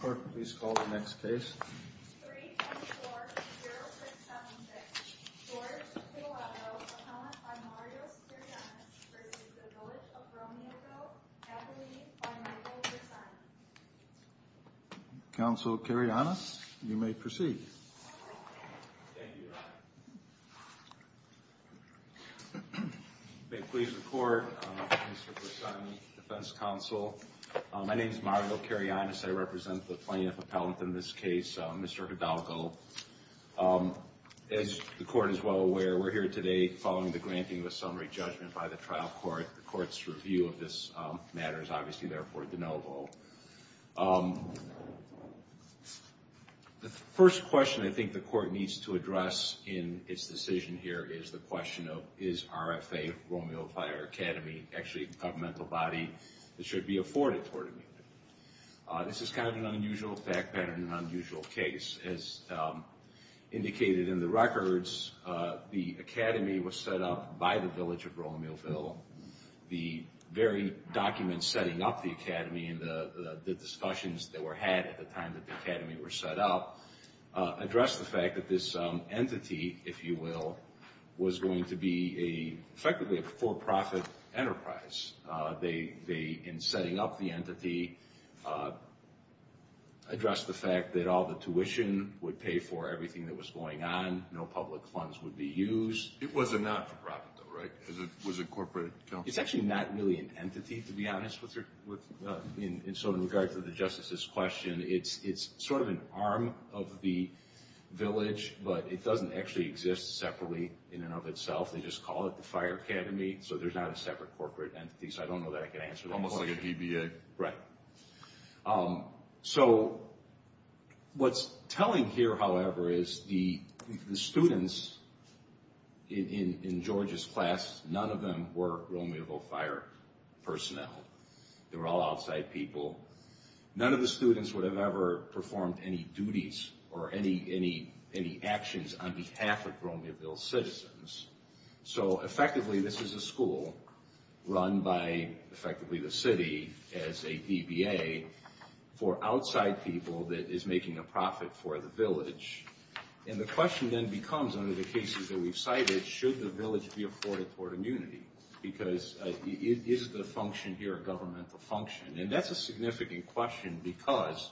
Clerk, please call the next case. 324-0676. George Hidalgo, appellant by Marios Karyanis, v. Village of Romeoville, appellee by Michael Grishan. Counsel Karyanis, you may proceed. Thank you, Your Honor. May it please the Court, Mr. Grishan, Defense Counsel. My name is Marios Karyanis. I represent the plaintiff appellant in this case, Mr. Hidalgo. As the Court is well aware, we're here today following the granting of a summary judgment by the trial court. The Court's review of this matter is obviously therefore de novo. The first question I think the Court needs to address in its decision here is the question of, is RFA, Romeoville Fire Academy, actually a governmental body that should be afforded tort immunity? This is kind of an unusual fact pattern and an unusual case. As indicated in the records, the Academy was set up by the Village of Romeoville. The very documents setting up the Academy and the discussions that were had at the time that the Academy was set up addressed the fact that this entity, if you will, was going to be effectively a for-profit enterprise. In setting up the entity, addressed the fact that all the tuition would pay for everything that was going on. No public funds would be used. It was a not-for-profit though, right? It was a corporate company? It's actually not really an entity, to be honest with you. So in regards to the Justice's question, it's sort of an arm of the Village, but it doesn't actually exist separately in and of itself. They just call it the Fire Academy, so there's not a separate corporate entity. So I don't know that I can answer that question. Almost like a DBA. Right. So what's telling here, however, is the students in George's class, none of them were Romeoville Fire personnel. They were all outside people. None of the students would have ever performed any duties or any actions on behalf of Romeoville citizens. So effectively, this is a school run by effectively the city as a DBA for outside people that is making a profit for the Village. And the question then becomes, under the cases that we've cited, should the Village be afforded port immunity? Because is the function here a governmental function? And that's a significant question because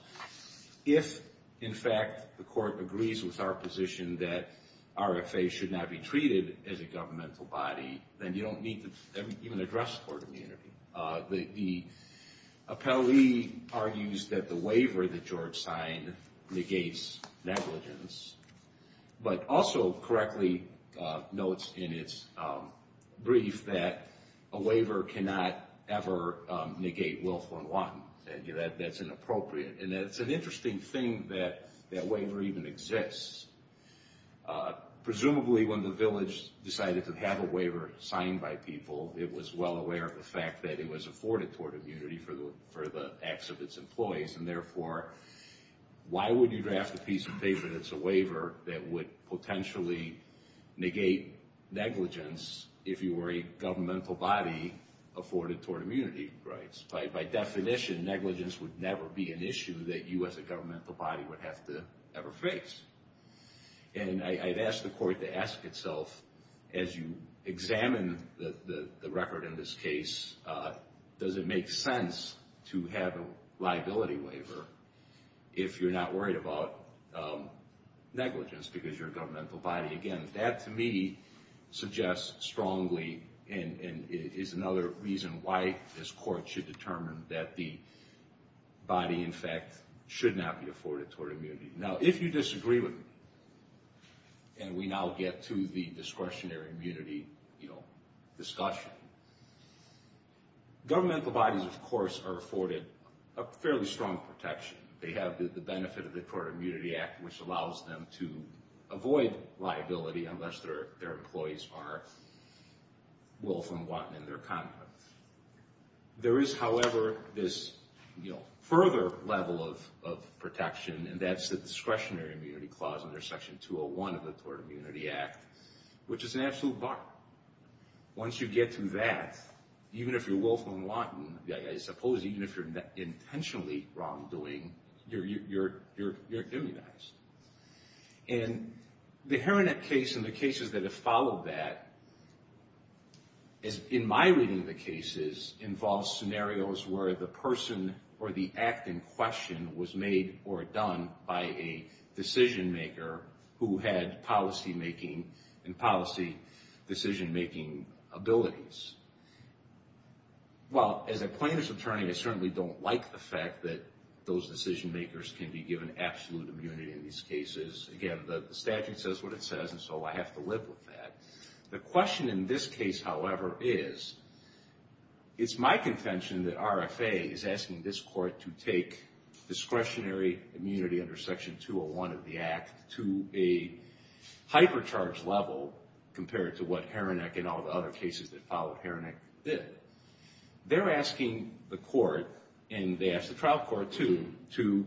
if, in fact, the court agrees with our position that RFA should not be treated as a governmental body, then you don't need to even address port immunity. The appellee argues that the waiver that George signed negates negligence, but also correctly notes in its brief that a waiver cannot ever negate willful and wanton. That's inappropriate. And it's an interesting thing that that waiver even exists. Presumably, when the Village decided to have a waiver signed by people, it was well aware of the fact that it was afforded port immunity for the acts of its employees. And therefore, why would you draft a piece of paper that's a waiver that would potentially negate negligence if you were a governmental body afforded port immunity rights? By definition, negligence would never be an issue that you as a governmental body would have to ever face. And I'd ask the court to ask itself, as you examine the record in this case, does it make sense to have a liability waiver if you're not worried about negligence because you're a governmental body? Again, that to me suggests strongly and is another reason why this court should determine that the body, in fact, should not be afforded port immunity. Now, if you disagree with me, and we now get to the discretionary immunity discussion, governmental bodies, of course, are afforded a fairly strong protection. They have the benefit of the Port Immunity Act, which allows them to avoid liability unless their employees are willful and wanton in their conduct. There is, however, this further level of protection, and that's the discretionary immunity clause under Section 201 of the Port Immunity Act, which is an absolute bar. Once you get to that, even if you're willful and wanton, I suppose even if you're intentionally wrongdoing, you're immunized. And the Heronet case and the cases that have followed that, in my reading of the cases, involves scenarios where the person or the act in question was made or done by a decision-maker who had policy-making and policy decision-making abilities. Well, as a plaintiff's attorney, I certainly don't like the fact that those decision-makers can be given absolute immunity in these cases. Again, the statute says what it says, and so I have to live with that. The question in this case, however, is, it's my contention that RFA is asking this court to take discretionary immunity under Section 201 of the act to a hypercharged level compared to what Heronet and all the other cases that followed Heronet did. They're asking the court, and they asked the trial court, too, to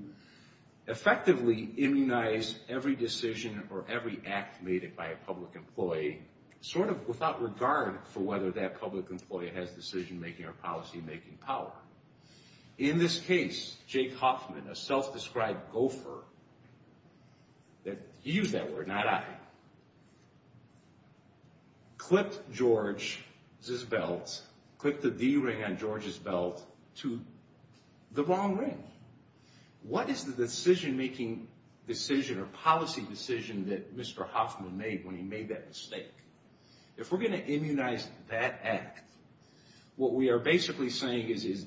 effectively immunize every decision or every act made by a public employee, sort of without regard for whether that public employee has decision-making or policy-making power. In this case, Jake Hoffman, a self-described gopher, he used that word, not I, clipped George's belt, clipped the D-ring on George's belt to the wrong ring. What is the decision-making decision or policy decision that Mr. Hoffman made when he made that mistake? If we're going to immunize that act, what we are basically saying is,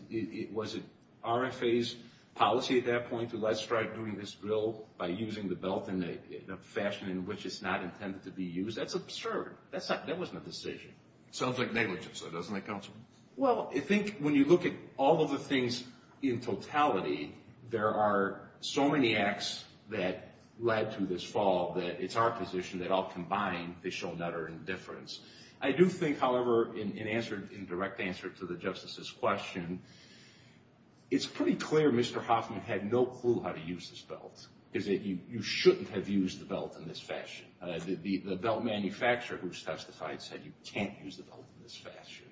was it RFA's policy at that point to, let's try doing this bill by using the belt in a fashion in which it's not intended to be used? That's absurd. That wasn't a decision. Sounds like negligence, though, doesn't it, counsel? Well, I think when you look at all of the things in totality, there are so many acts that led to this fall that it's our position that all combined, they show nother indifference. I do think, however, in direct answer to the Justice's question, it's pretty clear Mr. Hoffman had no clue how to use this belt, is that you shouldn't have used the belt in this fashion. The belt manufacturer who's testified said you can't use the belt in this fashion.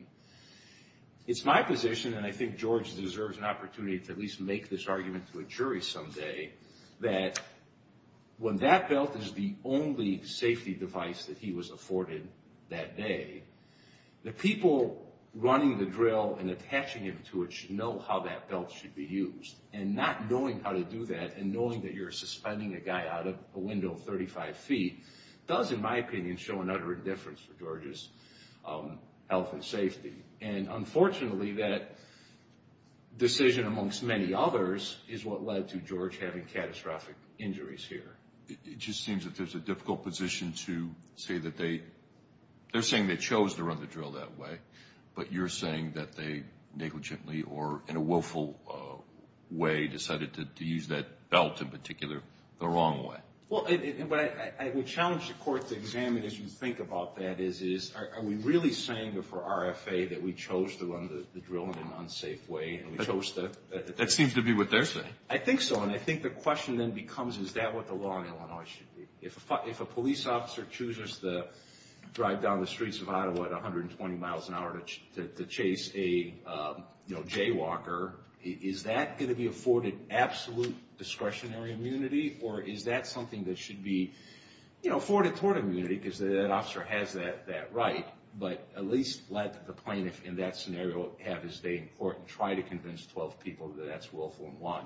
It's my position, and I think George deserves an opportunity to at least make this argument to a jury someday, that when that belt is the only safety device that he was afforded that day, the people running the drill and attaching him to it should know how that belt should be used. And not knowing how to do that and knowing that you're suspending a guy out of a window 35 feet does, in my opinion, show an utter indifference for George's health and safety. And unfortunately, that decision amongst many others is what led to George having catastrophic injuries here. It just seems that there's a difficult position to say that they, they're saying they chose to run the drill that way, but you're saying that they negligently or in a willful way decided to use that belt in particular the wrong way. Well, I would challenge the court to examine as you think about that is, is are we really saying for RFA that we chose to run the drill in an unsafe way and we chose to? That seems to be what they're saying. I think so, and I think the question then becomes is that what the law in Illinois should be? If a police officer chooses to drive down the streets of Ottawa at 120 miles an hour to chase a, you know, jaywalker, is that going to be afforded absolute discretionary immunity, or is that something that should be, you know, afforded tort immunity because that officer has that right? But at least let the plaintiff in that scenario have his day in court and try to convince 12 people that that's willful and one.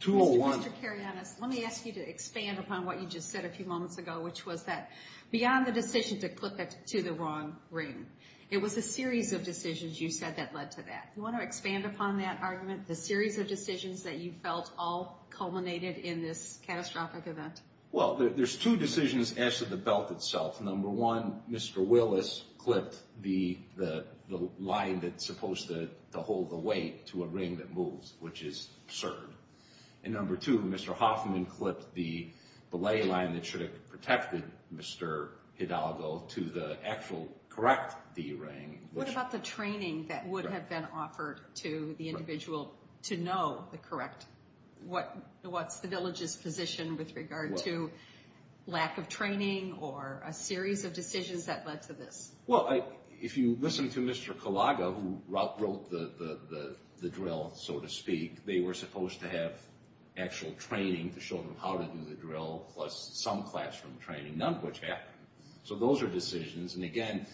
201. Mr. Karyanis, let me ask you to expand upon what you just said a few moments ago, which was that beyond the decision to clip it to the wrong ring, it was a series of decisions you said that led to that. Do you want to expand upon that argument, the series of decisions that you felt all culminated in this catastrophic event? Well, there's two decisions as to the belt itself. Number one, Mr. Willis clipped the line that's supposed to hold the weight to a ring that moves, which is absurd. And number two, Mr. Hoffman clipped the belay line that should have protected Mr. Hidalgo to the actual correct D ring. What about the training that would have been offered to the individual to know the correct, what's the village's position with regard to lack of training or a series of decisions that led to this? Well, if you listen to Mr. Kalaga, who wrote the drill, so to speak, they were supposed to have actual training to show them how to do the drill plus some classroom training, none of which happened. So those are decisions. And again,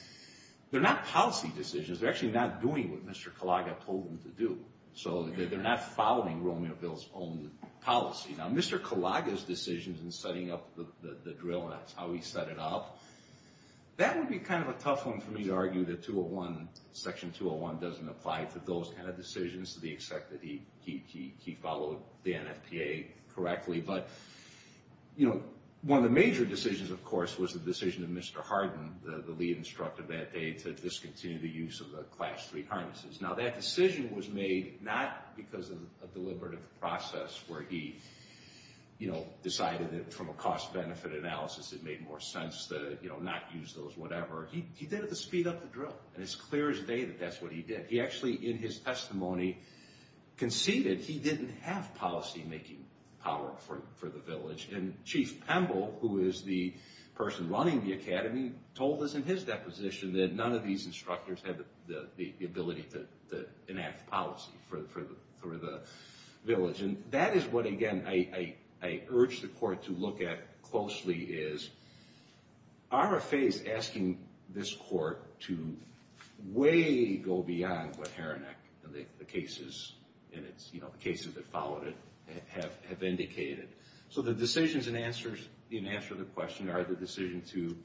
they're not policy decisions. They're actually not doing what Mr. Kalaga told them to do. So they're not following Romeo Bill's own policy. Now, Mr. Kalaga's decisions in setting up the drill, and that's how he set it up, that would be kind of a tough one for me to argue that Section 201 doesn't apply to those kind of decisions, to the extent that he followed the NFPA correctly. But, you know, one of the major decisions, of course, was the decision of Mr. Hardin, the lead instructor that day, to discontinue the use of the Class III harnesses. Now, that decision was made not because of a deliberative process where he, you know, decided that from a cost-benefit analysis it made more sense to, you know, not use those, whatever. He did it to speed up the drill. And it's clear as day that that's what he did. He actually, in his testimony, conceded he didn't have policy-making power for the village. And Chief Pemble, who is the person running the academy, told us in his deposition that none of these instructors had the ability to enact policy for the village. And that is what, again, I urge the Court to look at closely, is are a phase asking this Court to way go beyond what Haranek and the cases in it, you know, the cases that followed it, have indicated. So the decisions in answer to the question are the decision to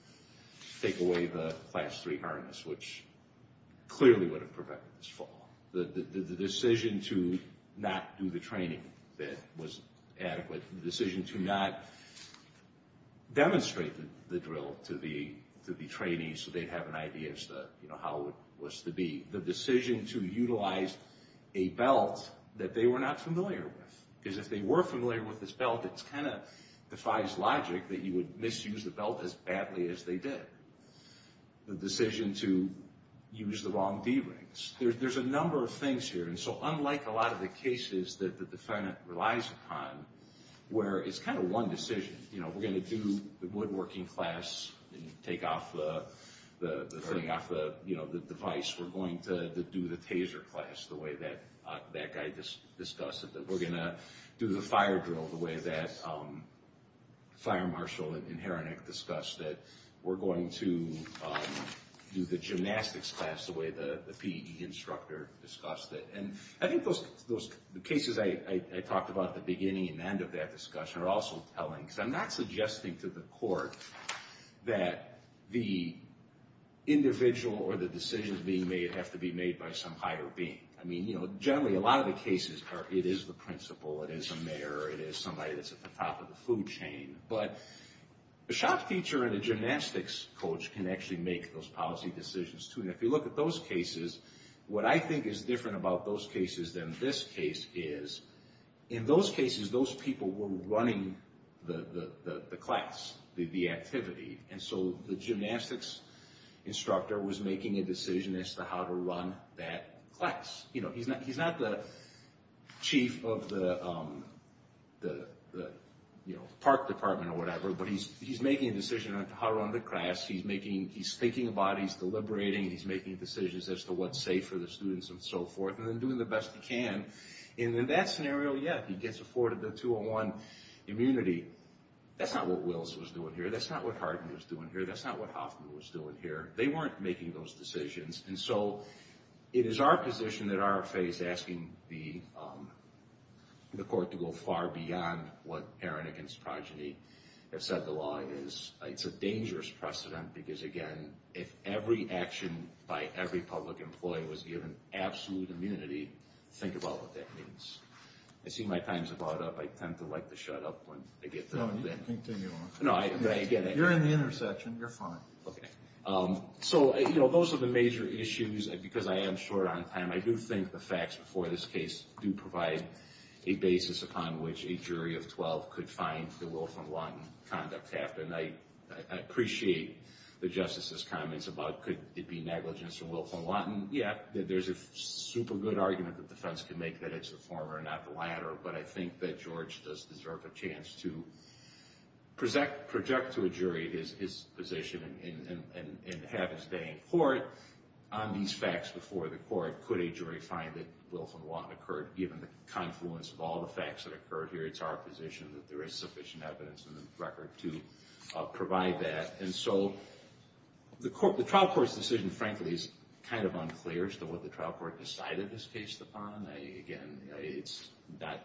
take away the Class III harness, which clearly would have prevented this fall. The decision to not do the training that was adequate. The decision to not demonstrate the drill to the trainees so they'd have an idea as to how it was to be. The decision to utilize a belt that they were not familiar with. Because if they were familiar with this belt, it kind of defies logic that you would misuse the belt as badly as they did. The decision to use the wrong D-rings. There's a number of things here. And so unlike a lot of the cases that the defendant relies upon, where it's kind of one decision. You know, we're going to do the woodworking class and take off the device. We're going to do the taser class the way that guy discussed it. We're going to do the fire drill the way that Fire Marshal and Haranek discussed it. We're going to do the gymnastics class the way the PE instructor discussed it. And I think those cases I talked about at the beginning and end of that discussion are also telling. Because I'm not suggesting to the court that the individual or the decisions being made have to be made by some higher being. I mean, you know, generally a lot of the cases are it is the principal, it is a mayor, it is somebody that's at the top of the food chain. But a shop teacher and a gymnastics coach can actually make those policy decisions, too. And if you look at those cases, what I think is different about those cases than this case is, in those cases those people were running the class, the activity. And so the gymnastics instructor was making a decision as to how to run that class. You know, he's not the chief of the park department or whatever, but he's making a decision on how to run the class. He's making, he's thinking about, he's deliberating, he's making decisions as to what's safe for the students and so forth. And then doing the best he can. And in that scenario, yeah, he gets afforded the 201 immunity. That's not what Wills was doing here. That's not what Hardin was doing here. That's not what Hoffman was doing here. They weren't making those decisions. And so it is our position that RFA is asking the court to go far beyond what Aaron against Progeny have said the law is. It's a dangerous precedent because, again, if every action by every public employee was given absolute immunity, think about what that means. I see my time's about up. I tend to like to shut up when I get that. No, you can continue on. No, I get it. You're in the intersection. You're fine. Okay. So, you know, those are the major issues. Because I am short on time, I do think the facts before this case do provide a basis upon which a jury of 12 could find the Wilf and Lawton conduct. And I appreciate the Justice's comments about could it be negligence from Wilf and Lawton. Yeah, there's a super good argument that defense can make that it's the former and not the latter. But I think that George does deserve a chance to project to a jury his position and have his day in court on these facts before the court. Could a jury find that Wilf and Lawton occurred given the confluence of all the facts that occurred here? It's our position that there is sufficient evidence in the record to provide that. And so the trial court's decision, frankly, is kind of unclear as to what the trial court decided this case upon. Again, it's not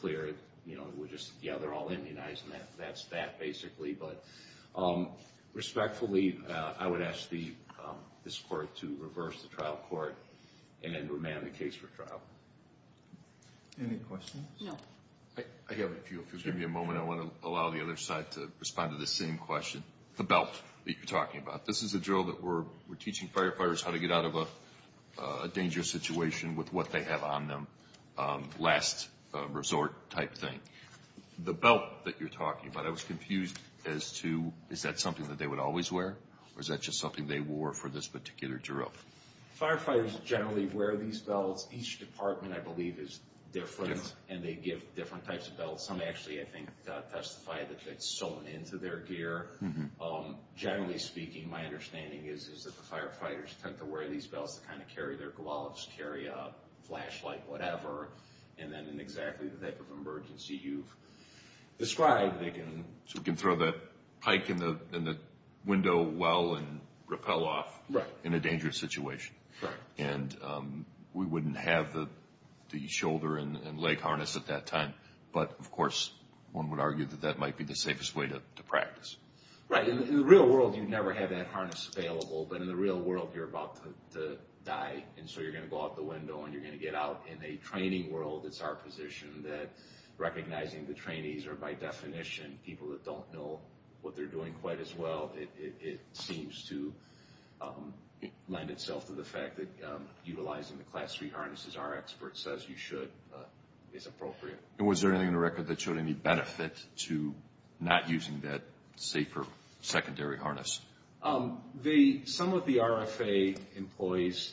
clear. You know, we're just, yeah, they're all immunized and that's that basically. But respectfully, I would ask this court to reverse the trial court and then remand the case for trial. Any questions? No. I have a few. If you'll give me a moment, I want to allow the other side to respond to the same question. The belt that you're talking about. This is a drill that we're teaching firefighters how to get out of a dangerous situation with what they have on them, last resort type thing. The belt that you're talking about, I was confused as to is that something that they would always wear or is that just something they wore for this particular drill? Firefighters generally wear these belts. Each department, I believe, is different and they give different types of belts. Some actually, I think, testify that it's sewn into their gear. Generally speaking, my understanding is that the firefighters tend to wear these belts to kind of carry their gloves, carry a flashlight, whatever. And then in exactly the type of emergency you've described, they can. So we can throw that pike in the window well and rappel off. Right. In a dangerous situation. Right. And we wouldn't have the shoulder and leg harness at that time. But, of course, one would argue that that might be the safest way to practice. Right. In the real world, you never have that harness available. But in the real world, you're about to die. And so you're going to go out the window and you're going to get out. In a training world, it's our position that recognizing the trainees are, by definition, people that don't know what they're doing quite as well. It seems to lend itself to the fact that utilizing the Class 3 harnesses, our expert says you should, is appropriate. And was there anything in the record that showed any benefit to not using that safer secondary harness? Some of the RFA employees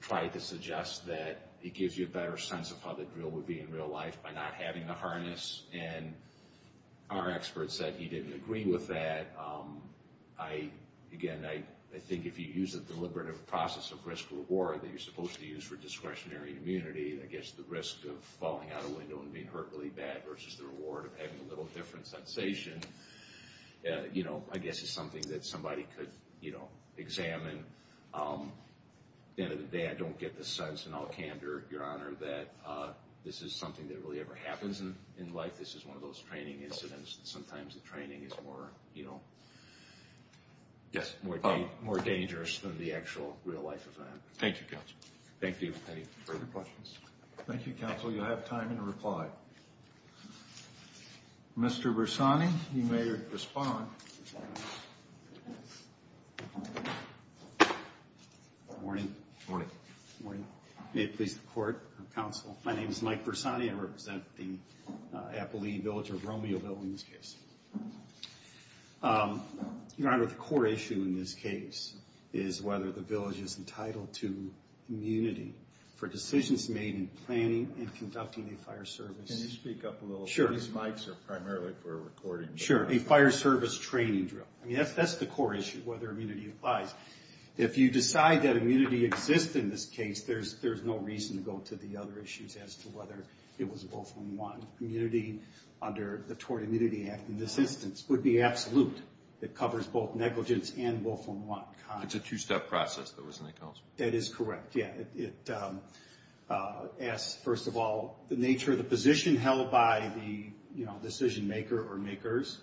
tried to suggest that it gives you a better sense of how the drill would be in real life by not having the harness. And our expert said he didn't agree with that. Again, I think if you use a deliberative process of risk-reward that you're supposed to use for discretionary immunity, I guess the risk of falling out a window and being hurt really bad versus the reward of having a little different sensation, I guess is something that somebody could examine. At the end of the day, I don't get the sense, and I'll candor, Your Honor, that this is something that really ever happens in life. This is one of those training incidents that sometimes the training is more dangerous than the actual real life event. Thank you, Counsel. Thank you. Any further questions? Thank you, Counsel. You have time to reply. Mr. Bersani, you may respond. Good morning. Good morning. May it please the Court, Counsel. My name is Mike Bersani. I represent the Appalachian Village of Romeoville in this case. Your Honor, the core issue in this case is whether the village is entitled to immunity for decisions made in planning and conducting a fire service. Can you speak up a little? Sure. These mics are primarily for recording. Sure. A fire service training drill. I mean, that's the core issue, whether immunity applies. If you decide that immunity exists in this case, there's no reason to go to the other issues as to whether it was a Wolfram One. Immunity under the Tort Immunity Act in this instance would be absolute. It covers both negligence and Wolfram One. It's a two-step process, though, isn't it, Counsel? That is correct, yeah. It asks, first of all, the nature of the position held by the decision maker or makers.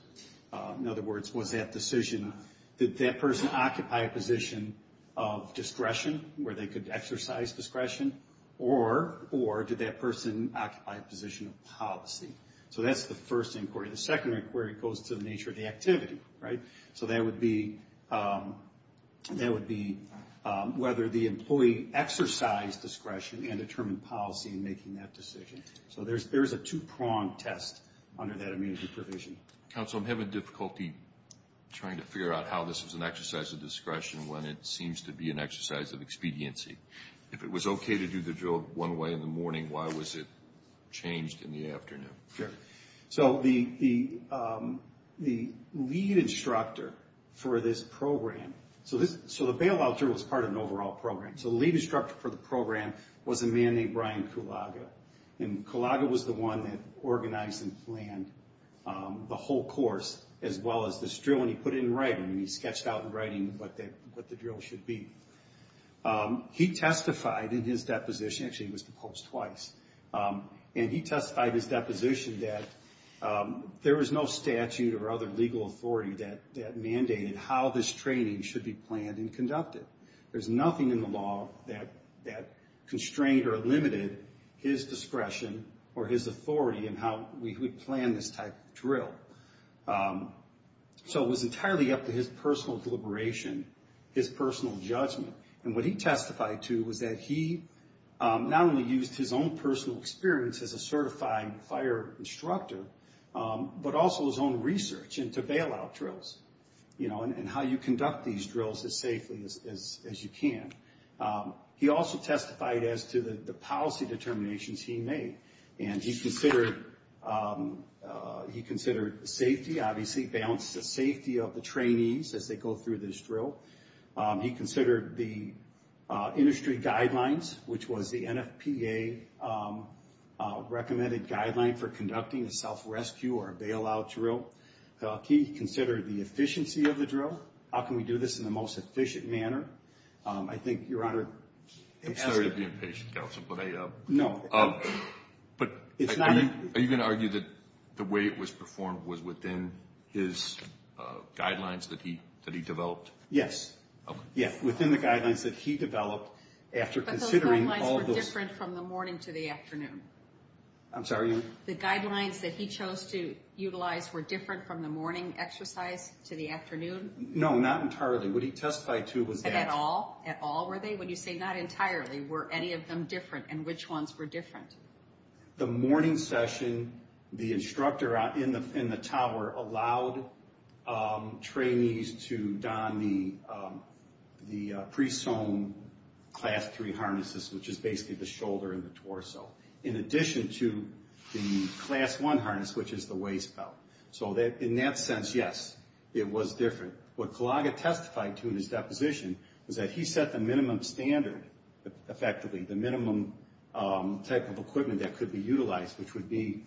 In other words, was that decision, did that person occupy a position of discretion where they could exercise discretion, or did that person occupy a position of policy? So that's the first inquiry. The second inquiry goes to the nature of the activity, right? So that would be whether the employee exercised discretion and determined policy in making that decision. So there's a two-pronged test under that immunity provision. Counsel, I'm having difficulty trying to figure out how this is an exercise of discretion when it seems to be an exercise of expediency. If it was okay to do the drill one way in the morning, why was it changed in the afternoon? Sure. So the lead instructor for this program, so the bailout drill was part of an overall program. So the lead instructor for the program was a man named Brian Kulaga. And Kulaga was the one that organized and planned the whole course, as well as this drill. And he put it in writing. He sketched out in writing what the drill should be. He testified in his deposition. Actually, he was the coach twice. And he testified in his deposition that there was no statute or other legal authority that mandated how this training should be planned and conducted. There's nothing in the law that constrained or limited his discretion or his authority in how we would plan this type of drill. So it was entirely up to his personal deliberation, his personal judgment. And what he testified to was that he not only used his own personal experience as a certified fire instructor, but also his own research into bailout drills and how you conduct these drills as safely as you can. He also testified as to the policy determinations he made. And he considered safety, obviously, balance the safety of the trainees as they go through this drill. He considered the industry guidelines, which was the NFPA-recommended guideline for conducting a self-rescue or a bailout drill. He considered the efficiency of the drill, how can we do this in the most efficient manner. I think, Your Honor, it's... I'm sorry to be impatient, Counselor, but I... No. But... It's not... Are you going to argue that the way it was performed was within his guidelines that he developed? Yes. Yes, within the guidelines that he developed after considering all those... But those guidelines were different from the morning to the afternoon. I'm sorry, Your Honor? The guidelines that he chose to utilize were different from the morning exercise to the afternoon? No, not entirely. What he testified to was that... At all? At all, were they? When you say not entirely, were any of them different? And which ones were different? The morning session, the instructor in the tower allowed trainees to don the pre-sewn Class 3 harnesses, which is basically the shoulder and the torso, in addition to the Class 1 harness, which is the waist belt. So in that sense, yes, it was different. What Kalaga testified to in his deposition was that he set the minimum standard, effectively, the minimum type of equipment that could be utilized, which would be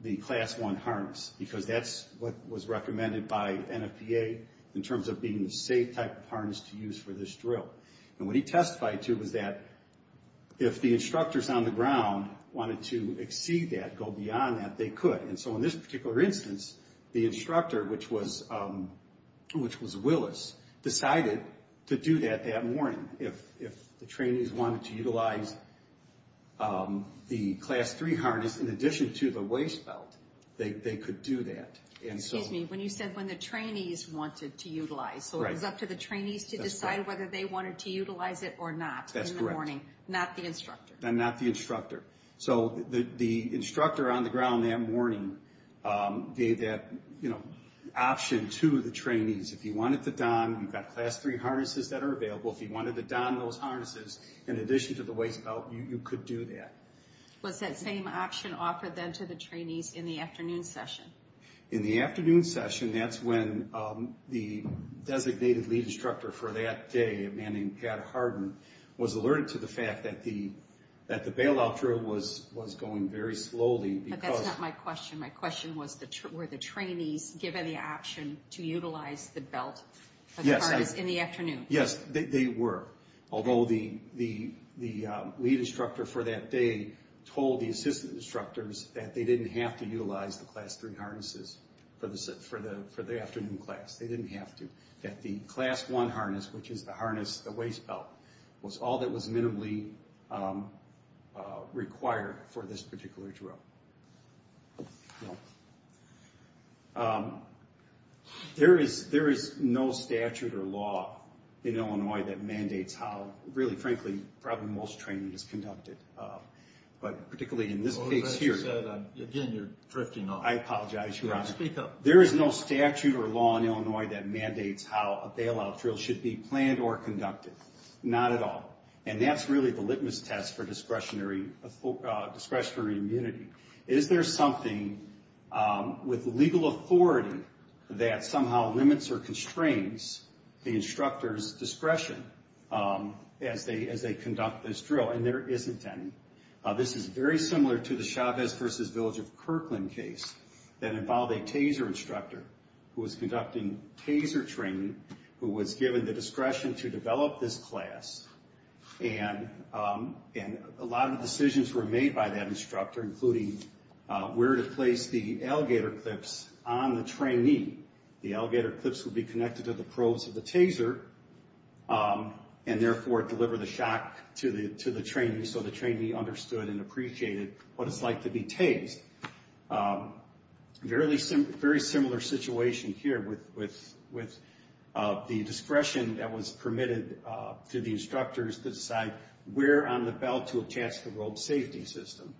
the Class 1 harness, because that's what was recommended by NFPA in terms of being the safe type of harness to use for this drill. And what he testified to was that if the instructors on the ground wanted to exceed that, go beyond that, they could. And so in this particular instance, the instructor, which was Willis, decided to do that that morning. If the trainees wanted to utilize the Class 3 harness in addition to the waist belt, they could do that. Excuse me, when you said when the trainees wanted to utilize, so it was up to the trainees to decide whether they wanted to utilize it or not in the morning. Not the instructor. And not the instructor. So the instructor on the ground that morning gave that option to the trainees. If you wanted to don, you've got Class 3 harnesses that are available. If you wanted to don those harnesses in addition to the waist belt, you could do that. Was that same option offered then to the trainees in the afternoon session? In the afternoon session, that's when the designated lead instructor for that day, a man named Pat Harden, was alerted to the fact that the bailout drill was going very slowly. But that's not my question. My question was were the trainees given the option to utilize the belt in the afternoon? Yes, they were. Although the lead instructor for that day told the assistant instructors that they didn't have to utilize the Class 3 harnesses for the afternoon class. They didn't have to. That the Class 1 harness, which is the harness, the waist belt, was all that was minimally required for this particular drill. There is no statute or law in Illinois that mandates how, really, frankly, probably most training is conducted. But particularly in this case here. Again, you're drifting off. I apologize, Your Honor. Speak up. There is no statute or law in Illinois that mandates how a bailout drill should be planned or conducted. Not at all. And that's really the litmus test for discretionary immunity. Is there something with legal authority that somehow limits or constrains the instructor's discretion as they conduct this drill? And there isn't any. This is very similar to the Chavez v. Village of Kirkland case that involved a TASER instructor who was conducting TASER training, who was given the discretion to develop this class. And a lot of decisions were made by that instructor, including where to place the alligator clips on the trainee. The alligator clips would be connected to the probes of the TASER and, therefore, deliver the shock to the trainee so the trainee understood and appreciated what it's like to be TASED. Very similar situation here with the discretion that was permitted to the instructors to decide where on the belt to attach the rope safety system.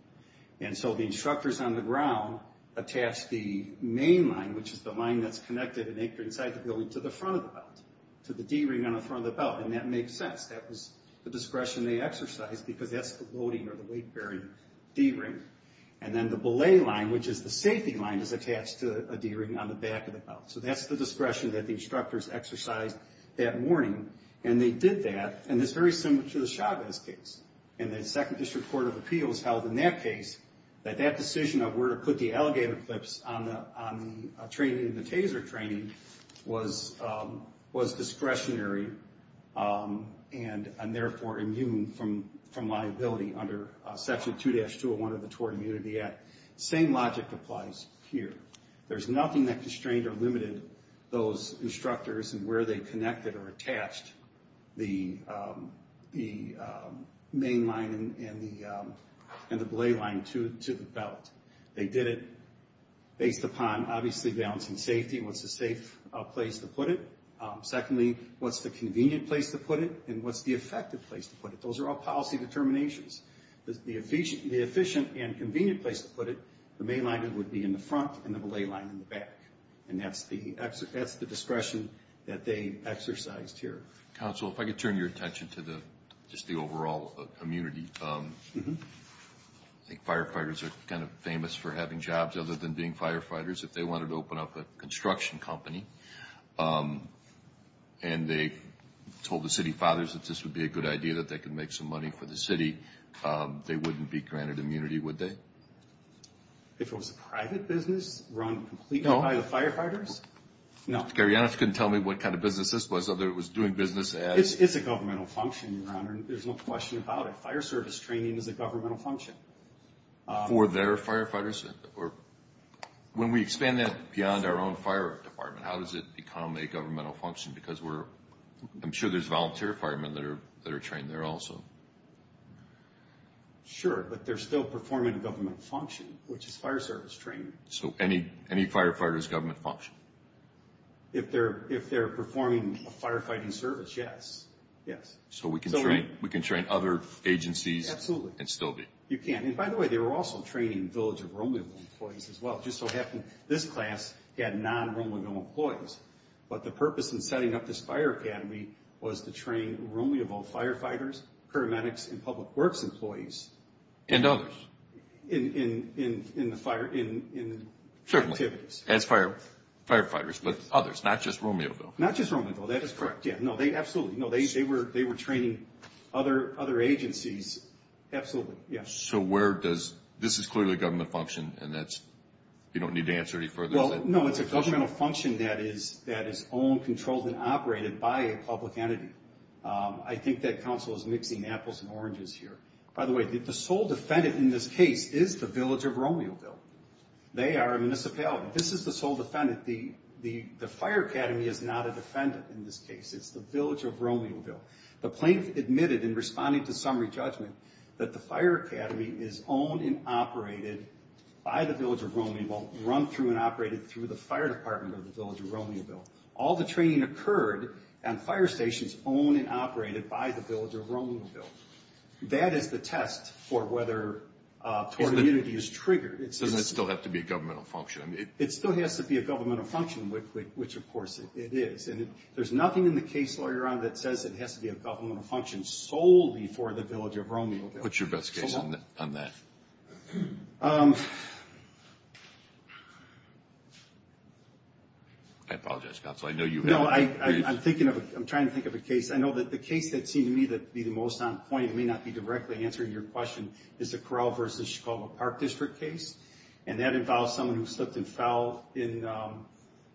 And so the instructors on the ground attached the main line, which is the line that's connected and anchored inside the building, to the front of the belt, to the D-ring on the front of the belt. And that makes sense. That was the discretion they exercised because that's the loading or the weight-bearing D-ring. And then the belay line, which is the safety line, is attached to a D-ring on the back of the belt. So that's the discretion that the instructors exercised that morning. And they did that, and it's very similar to the Chavez case. And the Second District Court of Appeals held in that case that that decision of where to put the alligator clips on the trainee in the TASER training was discretionary and, therefore, immune from liability under Section 2-201 of the Tort Immunity Act. Same logic applies here. There's nothing that constrained or limited those instructors in where they connected or attached the main line and the belay line to the belt. They did it based upon, obviously, balancing safety and what's the safe place to put it. Secondly, what's the convenient place to put it and what's the effective place to put it. Those are all policy determinations. The efficient and convenient place to put it, the main line would be in the front and the belay line in the back. And that's the discretion that they exercised here. Counsel, if I could turn your attention to just the overall immunity. I think firefighters are kind of famous for having jobs other than being firefighters. If they wanted to open up a construction company and they told the city fathers that this would be a good idea, that they could make some money for the city, they wouldn't be granted immunity, would they? If it was a private business run completely by the firefighters? No. Gary, you honestly couldn't tell me what kind of business this was other than it was doing business as... It's a governmental function, Your Honor, and there's no question about it. Fire service training is a governmental function. For their firefighters? When we expand that beyond our own fire department, how does it become a governmental function? Because I'm sure there's volunteer firemen that are trained there also. Sure, but they're still performing a governmental function, which is fire service training. So any firefighter's government function. If they're performing a firefighting service, yes. So we can train other agencies and still be. You can. And by the way, they were also training Village of Romeo employees as well. It just so happened this class had non-Romeo employees. But the purpose in setting up this fire academy was to train Romeo firefighters, paramedics, and public works employees. And others. In the fire, in the activities. As firefighters, but others, not just Romeo, though. Not just Romeo, though. That is correct. Yeah, no, absolutely. No, they were training other agencies. Absolutely, yes. So where does, this is clearly a government function, and that's, you don't need to answer any further. Well, no, it's a governmental function that is owned, controlled, and operated by a public entity. I think that counsel is mixing apples and oranges here. By the way, the sole defendant in this case is the Village of Romeoville. They are a municipality. This is the sole defendant. The fire academy is not a defendant in this case. It's the Village of Romeoville. The plaintiff admitted in responding to summary judgment that the fire academy is owned and operated by the Village of Romeoville. Run through and operated through the fire department of the Village of Romeoville. All the training occurred on fire stations owned and operated by the Village of Romeoville. That is the test for whether community is triggered. Doesn't it still have to be a governmental function? It still has to be a governmental function, which, of course, it is. And there's nothing in the case, lawyer, that says it has to be a governmental function solely for the Village of Romeoville. What's your best case on that? I apologize, counsel. I know you have a case. No, I'm trying to think of a case. I know that the case that seemed to me to be the most on point, it may not be directly answering your question, is the Corral v. Chicago Park District case. And that involves someone who slipped and fell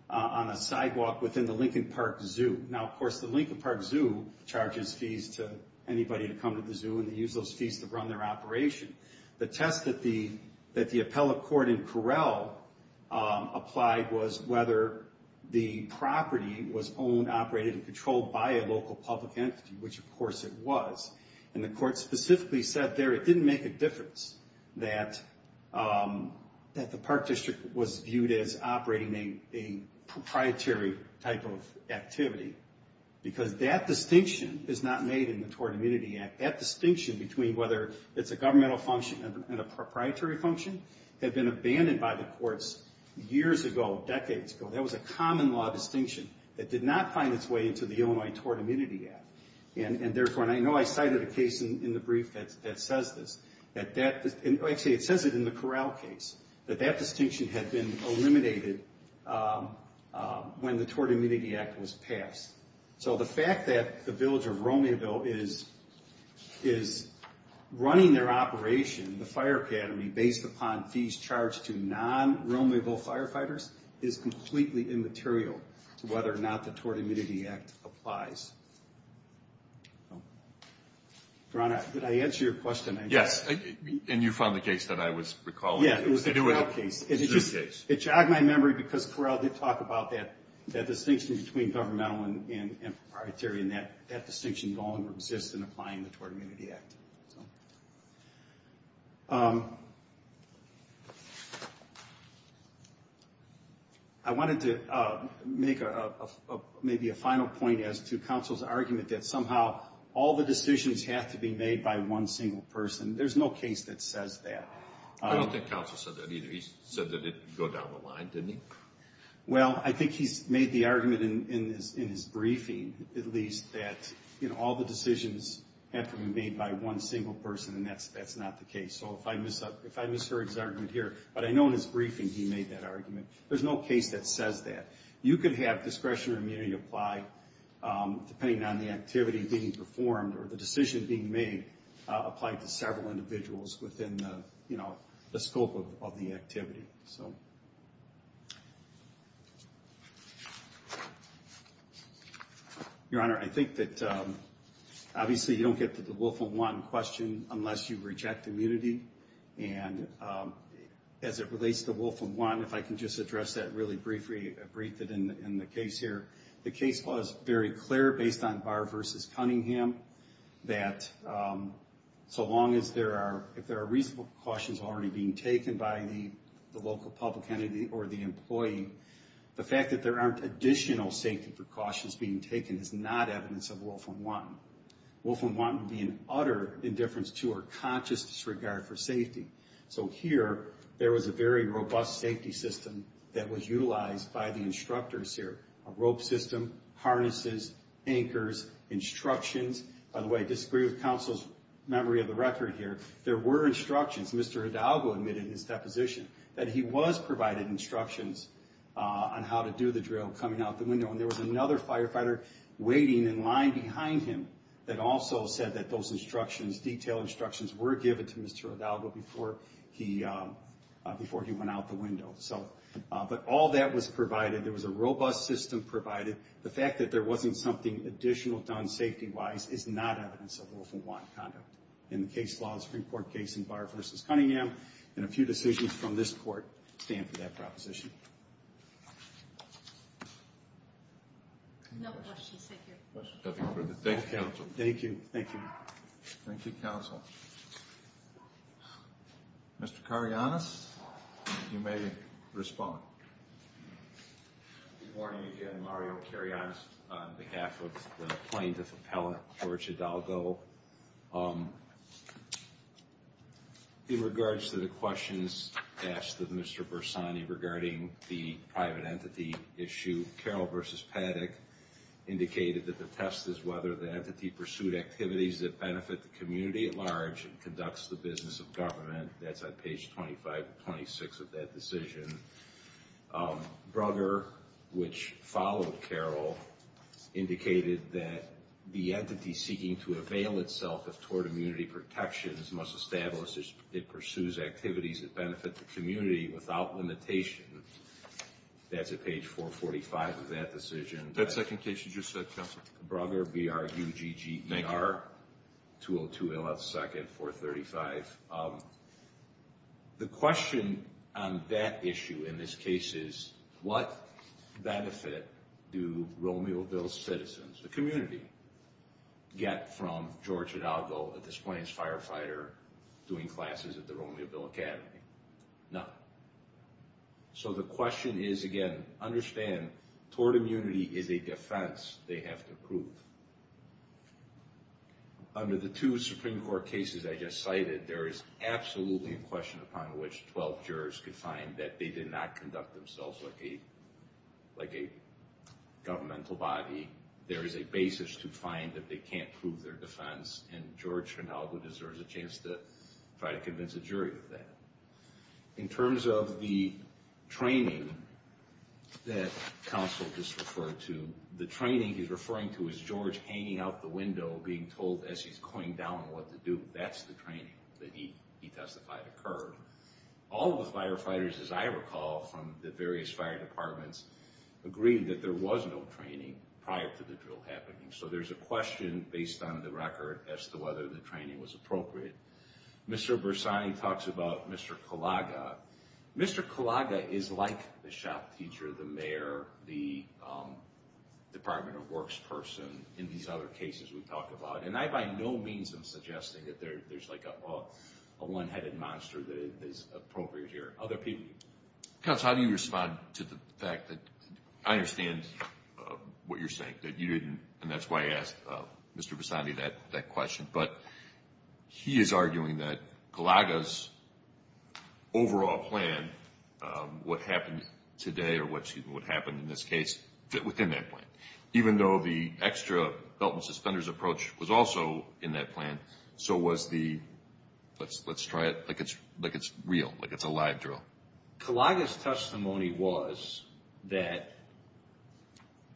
on a sidewalk within the Lincoln Park Zoo. Now, of course, the Lincoln Park Zoo charges fees to anybody to come to the zoo, and they use those fees to run their operation. The test that the appellate court in Corral applied was whether the property was owned, operated, and controlled by a local public entity, which, of course, it was. And the court specifically said there it didn't make a difference that the park district was viewed as operating a proprietary type of activity, because that distinction is not made in the Tort Immunity Act. That distinction between whether it's a governmental function and a proprietary function had been abandoned by the courts years ago, decades ago. That was a common law distinction that did not find its way into the Illinois Tort Immunity Act. And, therefore, and I know I cited a case in the brief that says this. Actually, it says it in the Corral case, that that distinction had been eliminated when the Tort Immunity Act was passed. So the fact that the village of Romayville is running their operation, the fire academy, based upon fees charged to non-Romayville firefighters, is completely immaterial to whether or not the Tort Immunity Act applies. Ron, did I answer your question? Yes, and you found the case that I was recalling. Yeah, it was the Corral case. The zoo case. It jogged my memory, because Corral did talk about that distinction between governmental and proprietary, and that distinction no longer exists in applying the Tort Immunity Act. I wanted to make maybe a final point as to counsel's argument that somehow all the decisions have to be made by one single person. There's no case that says that. I don't think counsel said that either. He said that it would go down the line, didn't he? Well, I think he's made the argument in his briefing, at least, that all the decisions have to be made by one single person, and that's not the case. So if I misheard his argument here, but I know in his briefing he made that argument. There's no case that says that. You could have discretion or immunity apply depending on the activity being performed or the decision being made applied to several individuals within the scope of the activity. Your Honor, I think that obviously you don't get to the Wolfram One question unless you reject immunity, and as it relates to Wolfram One, if I can just address that really briefly in the case here. The case was very clear based on Barr v. Cunningham that so long as there are reasonable precautions already being taken by the local public entity or the employee, the fact that there aren't additional safety precautions being taken is not evidence of Wolfram One. Wolfram One would be an utter indifference to or conscious disregard for safety. So here, there was a very robust safety system that was utilized by the instructors here. A rope system, harnesses, anchors, instructions. By the way, I disagree with counsel's memory of the record here. There were instructions. Mr. Hidalgo admitted in his deposition that he was provided instructions on how to do the drill coming out the window, and there was another firefighter waiting in line behind him that also said that those instructions, detailed instructions were given to Mr. Hidalgo before he went out the window. But all that was provided. There was a robust system provided. The fact that there wasn't something additional done safety-wise is not evidence of Wolfram One conduct. In the case law, the Supreme Court case in Barr v. Cunningham, and a few decisions from this court stand for that proposition. No questions. Thank you, counsel. Thank you. Thank you. Thank you, counsel. Mr. Karyanis, you may respond. Good morning again, Mario Karyanis, on behalf of the plaintiff appellant, George Hidalgo. In regards to the questions asked of Mr. Bersani regarding the private entity issue, Carol v. Paddock indicated that the test is whether the entity pursued activities that benefit the community at large and conducts the business of government. That's on page 25 to 26 of that decision. Brugger, which followed Carol, indicated that the entity seeking to avail itself of tort immunity protections must establish it pursues activities that benefit the community without limitation. That's at page 445 of that decision. That second case you just said, counsel. Brugger, B-R-U-G-G-E-R. 202 A.L.S. 2nd, 435. The question on that issue in this case is what benefit do Romeo Ville citizens, the community, get from George Hidalgo, at this point, as a firefighter doing classes at the Romeo Ville Academy? None. So the question is, again, understand tort immunity is a defense they have to prove. Under the two Supreme Court cases I just cited, there is absolutely a question upon which 12 jurors could find that they did not conduct themselves like a governmental body. There is a basis to find that they can't prove their defense, and George Hidalgo deserves a chance to try to convince a jury of that. In terms of the training that counsel just referred to, the training he's referring to is George hanging out the window being told as he's going down what to do. That's the training that he testified occurred. All of the firefighters, as I recall, from the various fire departments, agreed that there was no training prior to the drill happening. So there's a question based on the record as to whether the training was appropriate. Mr. Bersani talks about Mr. Kalaga. Mr. Kalaga is like the shop teacher, the mayor, the department of works person in these other cases we talk about, and I by no means am suggesting that there's like a one-headed monster that is appropriate here. Other people? Counsel, how do you respond to the fact that I understand what you're saying, that you didn't, and that's why I asked Mr. Bersani that question, but he is arguing that Kalaga's overall plan, what happened today or what happened in this case, fit within that plan. Even though the extra belt and suspenders approach was also in that plan, so was the let's try it like it's real, like it's a live drill. Kalaga's testimony was that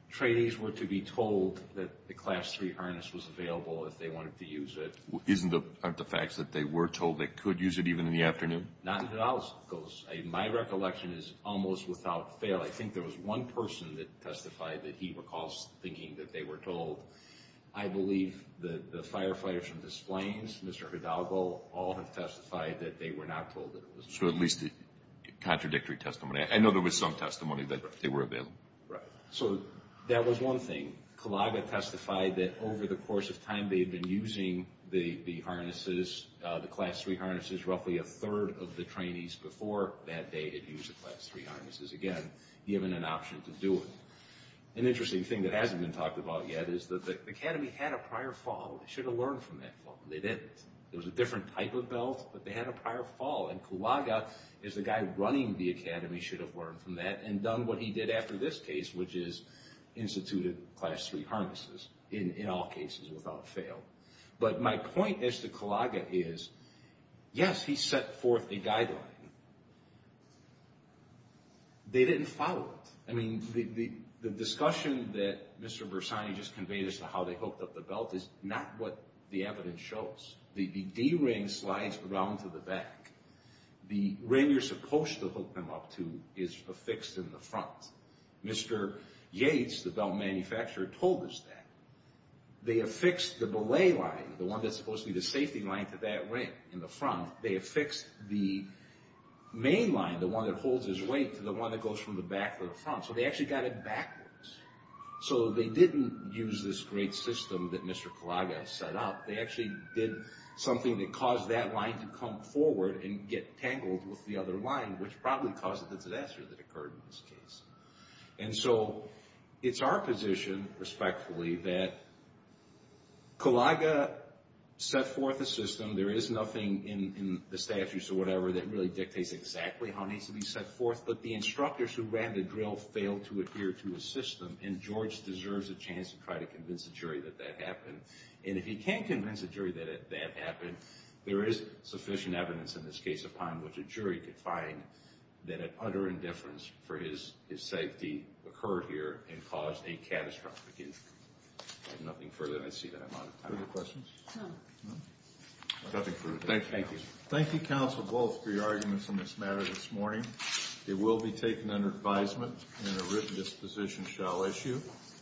trainees were to be told that the Class III harness was available if they wanted to use it. Aren't the facts that they were told they could use it even in the afternoon? Not in Hidalgo's case. My recollection is almost without fail. I think there was one person that testified that he recalls thinking that they were told. I believe the firefighters from the planes, Mr. Hidalgo, all have testified that they were not told. So at least contradictory testimony. I know there was some testimony that they were available. Right. So that was one thing. Kalaga testified that over the course of time they had been using the harnesses, the Class III harnesses, roughly a third of the trainees before that day had used the Class III harnesses, again, given an option to do it. An interesting thing that hasn't been talked about yet is that the Academy had a prior fall. They should have learned from that fall. They didn't. It was a different type of belt, but they had a prior fall, and Kalaga is the guy running the Academy, should have learned from that and done what he did after this case, which is instituted Class III harnesses in all cases without fail. But my point as to Kalaga is, yes, he set forth a guideline. They didn't follow it. I mean, the discussion that Mr. Bersani just conveyed as to how they hooked up the belt is not what the evidence shows. The D-ring slides around to the back. The ring you're supposed to hook them up to is affixed in the front. Mr. Yates, the belt manufacturer, told us that. They affixed the belay line, the one that's supposed to be the safety line, to that ring in the front. They affixed the main line, the one that holds his weight, to the one that goes from the back to the front. So they actually got it backwards. So they didn't use this great system that Mr. Kalaga set up. They actually did something that caused that line to come forward and get tangled with the other line, which probably caused the disaster that occurred in this case. And so it's our position, respectfully, that Kalaga set forth a system. There is nothing in the statutes or whatever that really dictates exactly how it needs to be set forth. But the instructors who ran the drill failed to adhere to a system, and George deserves a chance to try to convince the jury that that happened. And if he can't convince a jury that that happened, there is sufficient evidence in this case upon which a jury could find that an utter indifference for his safety occurred here and caused a catastrophic incident. I have nothing further. I see that I'm out of time. Any other questions? No. Nothing further. Thank you, counsel. Thank you, counsel, both, for your arguments on this matter this morning. It will be taken under advisement, and a written disposition shall issue.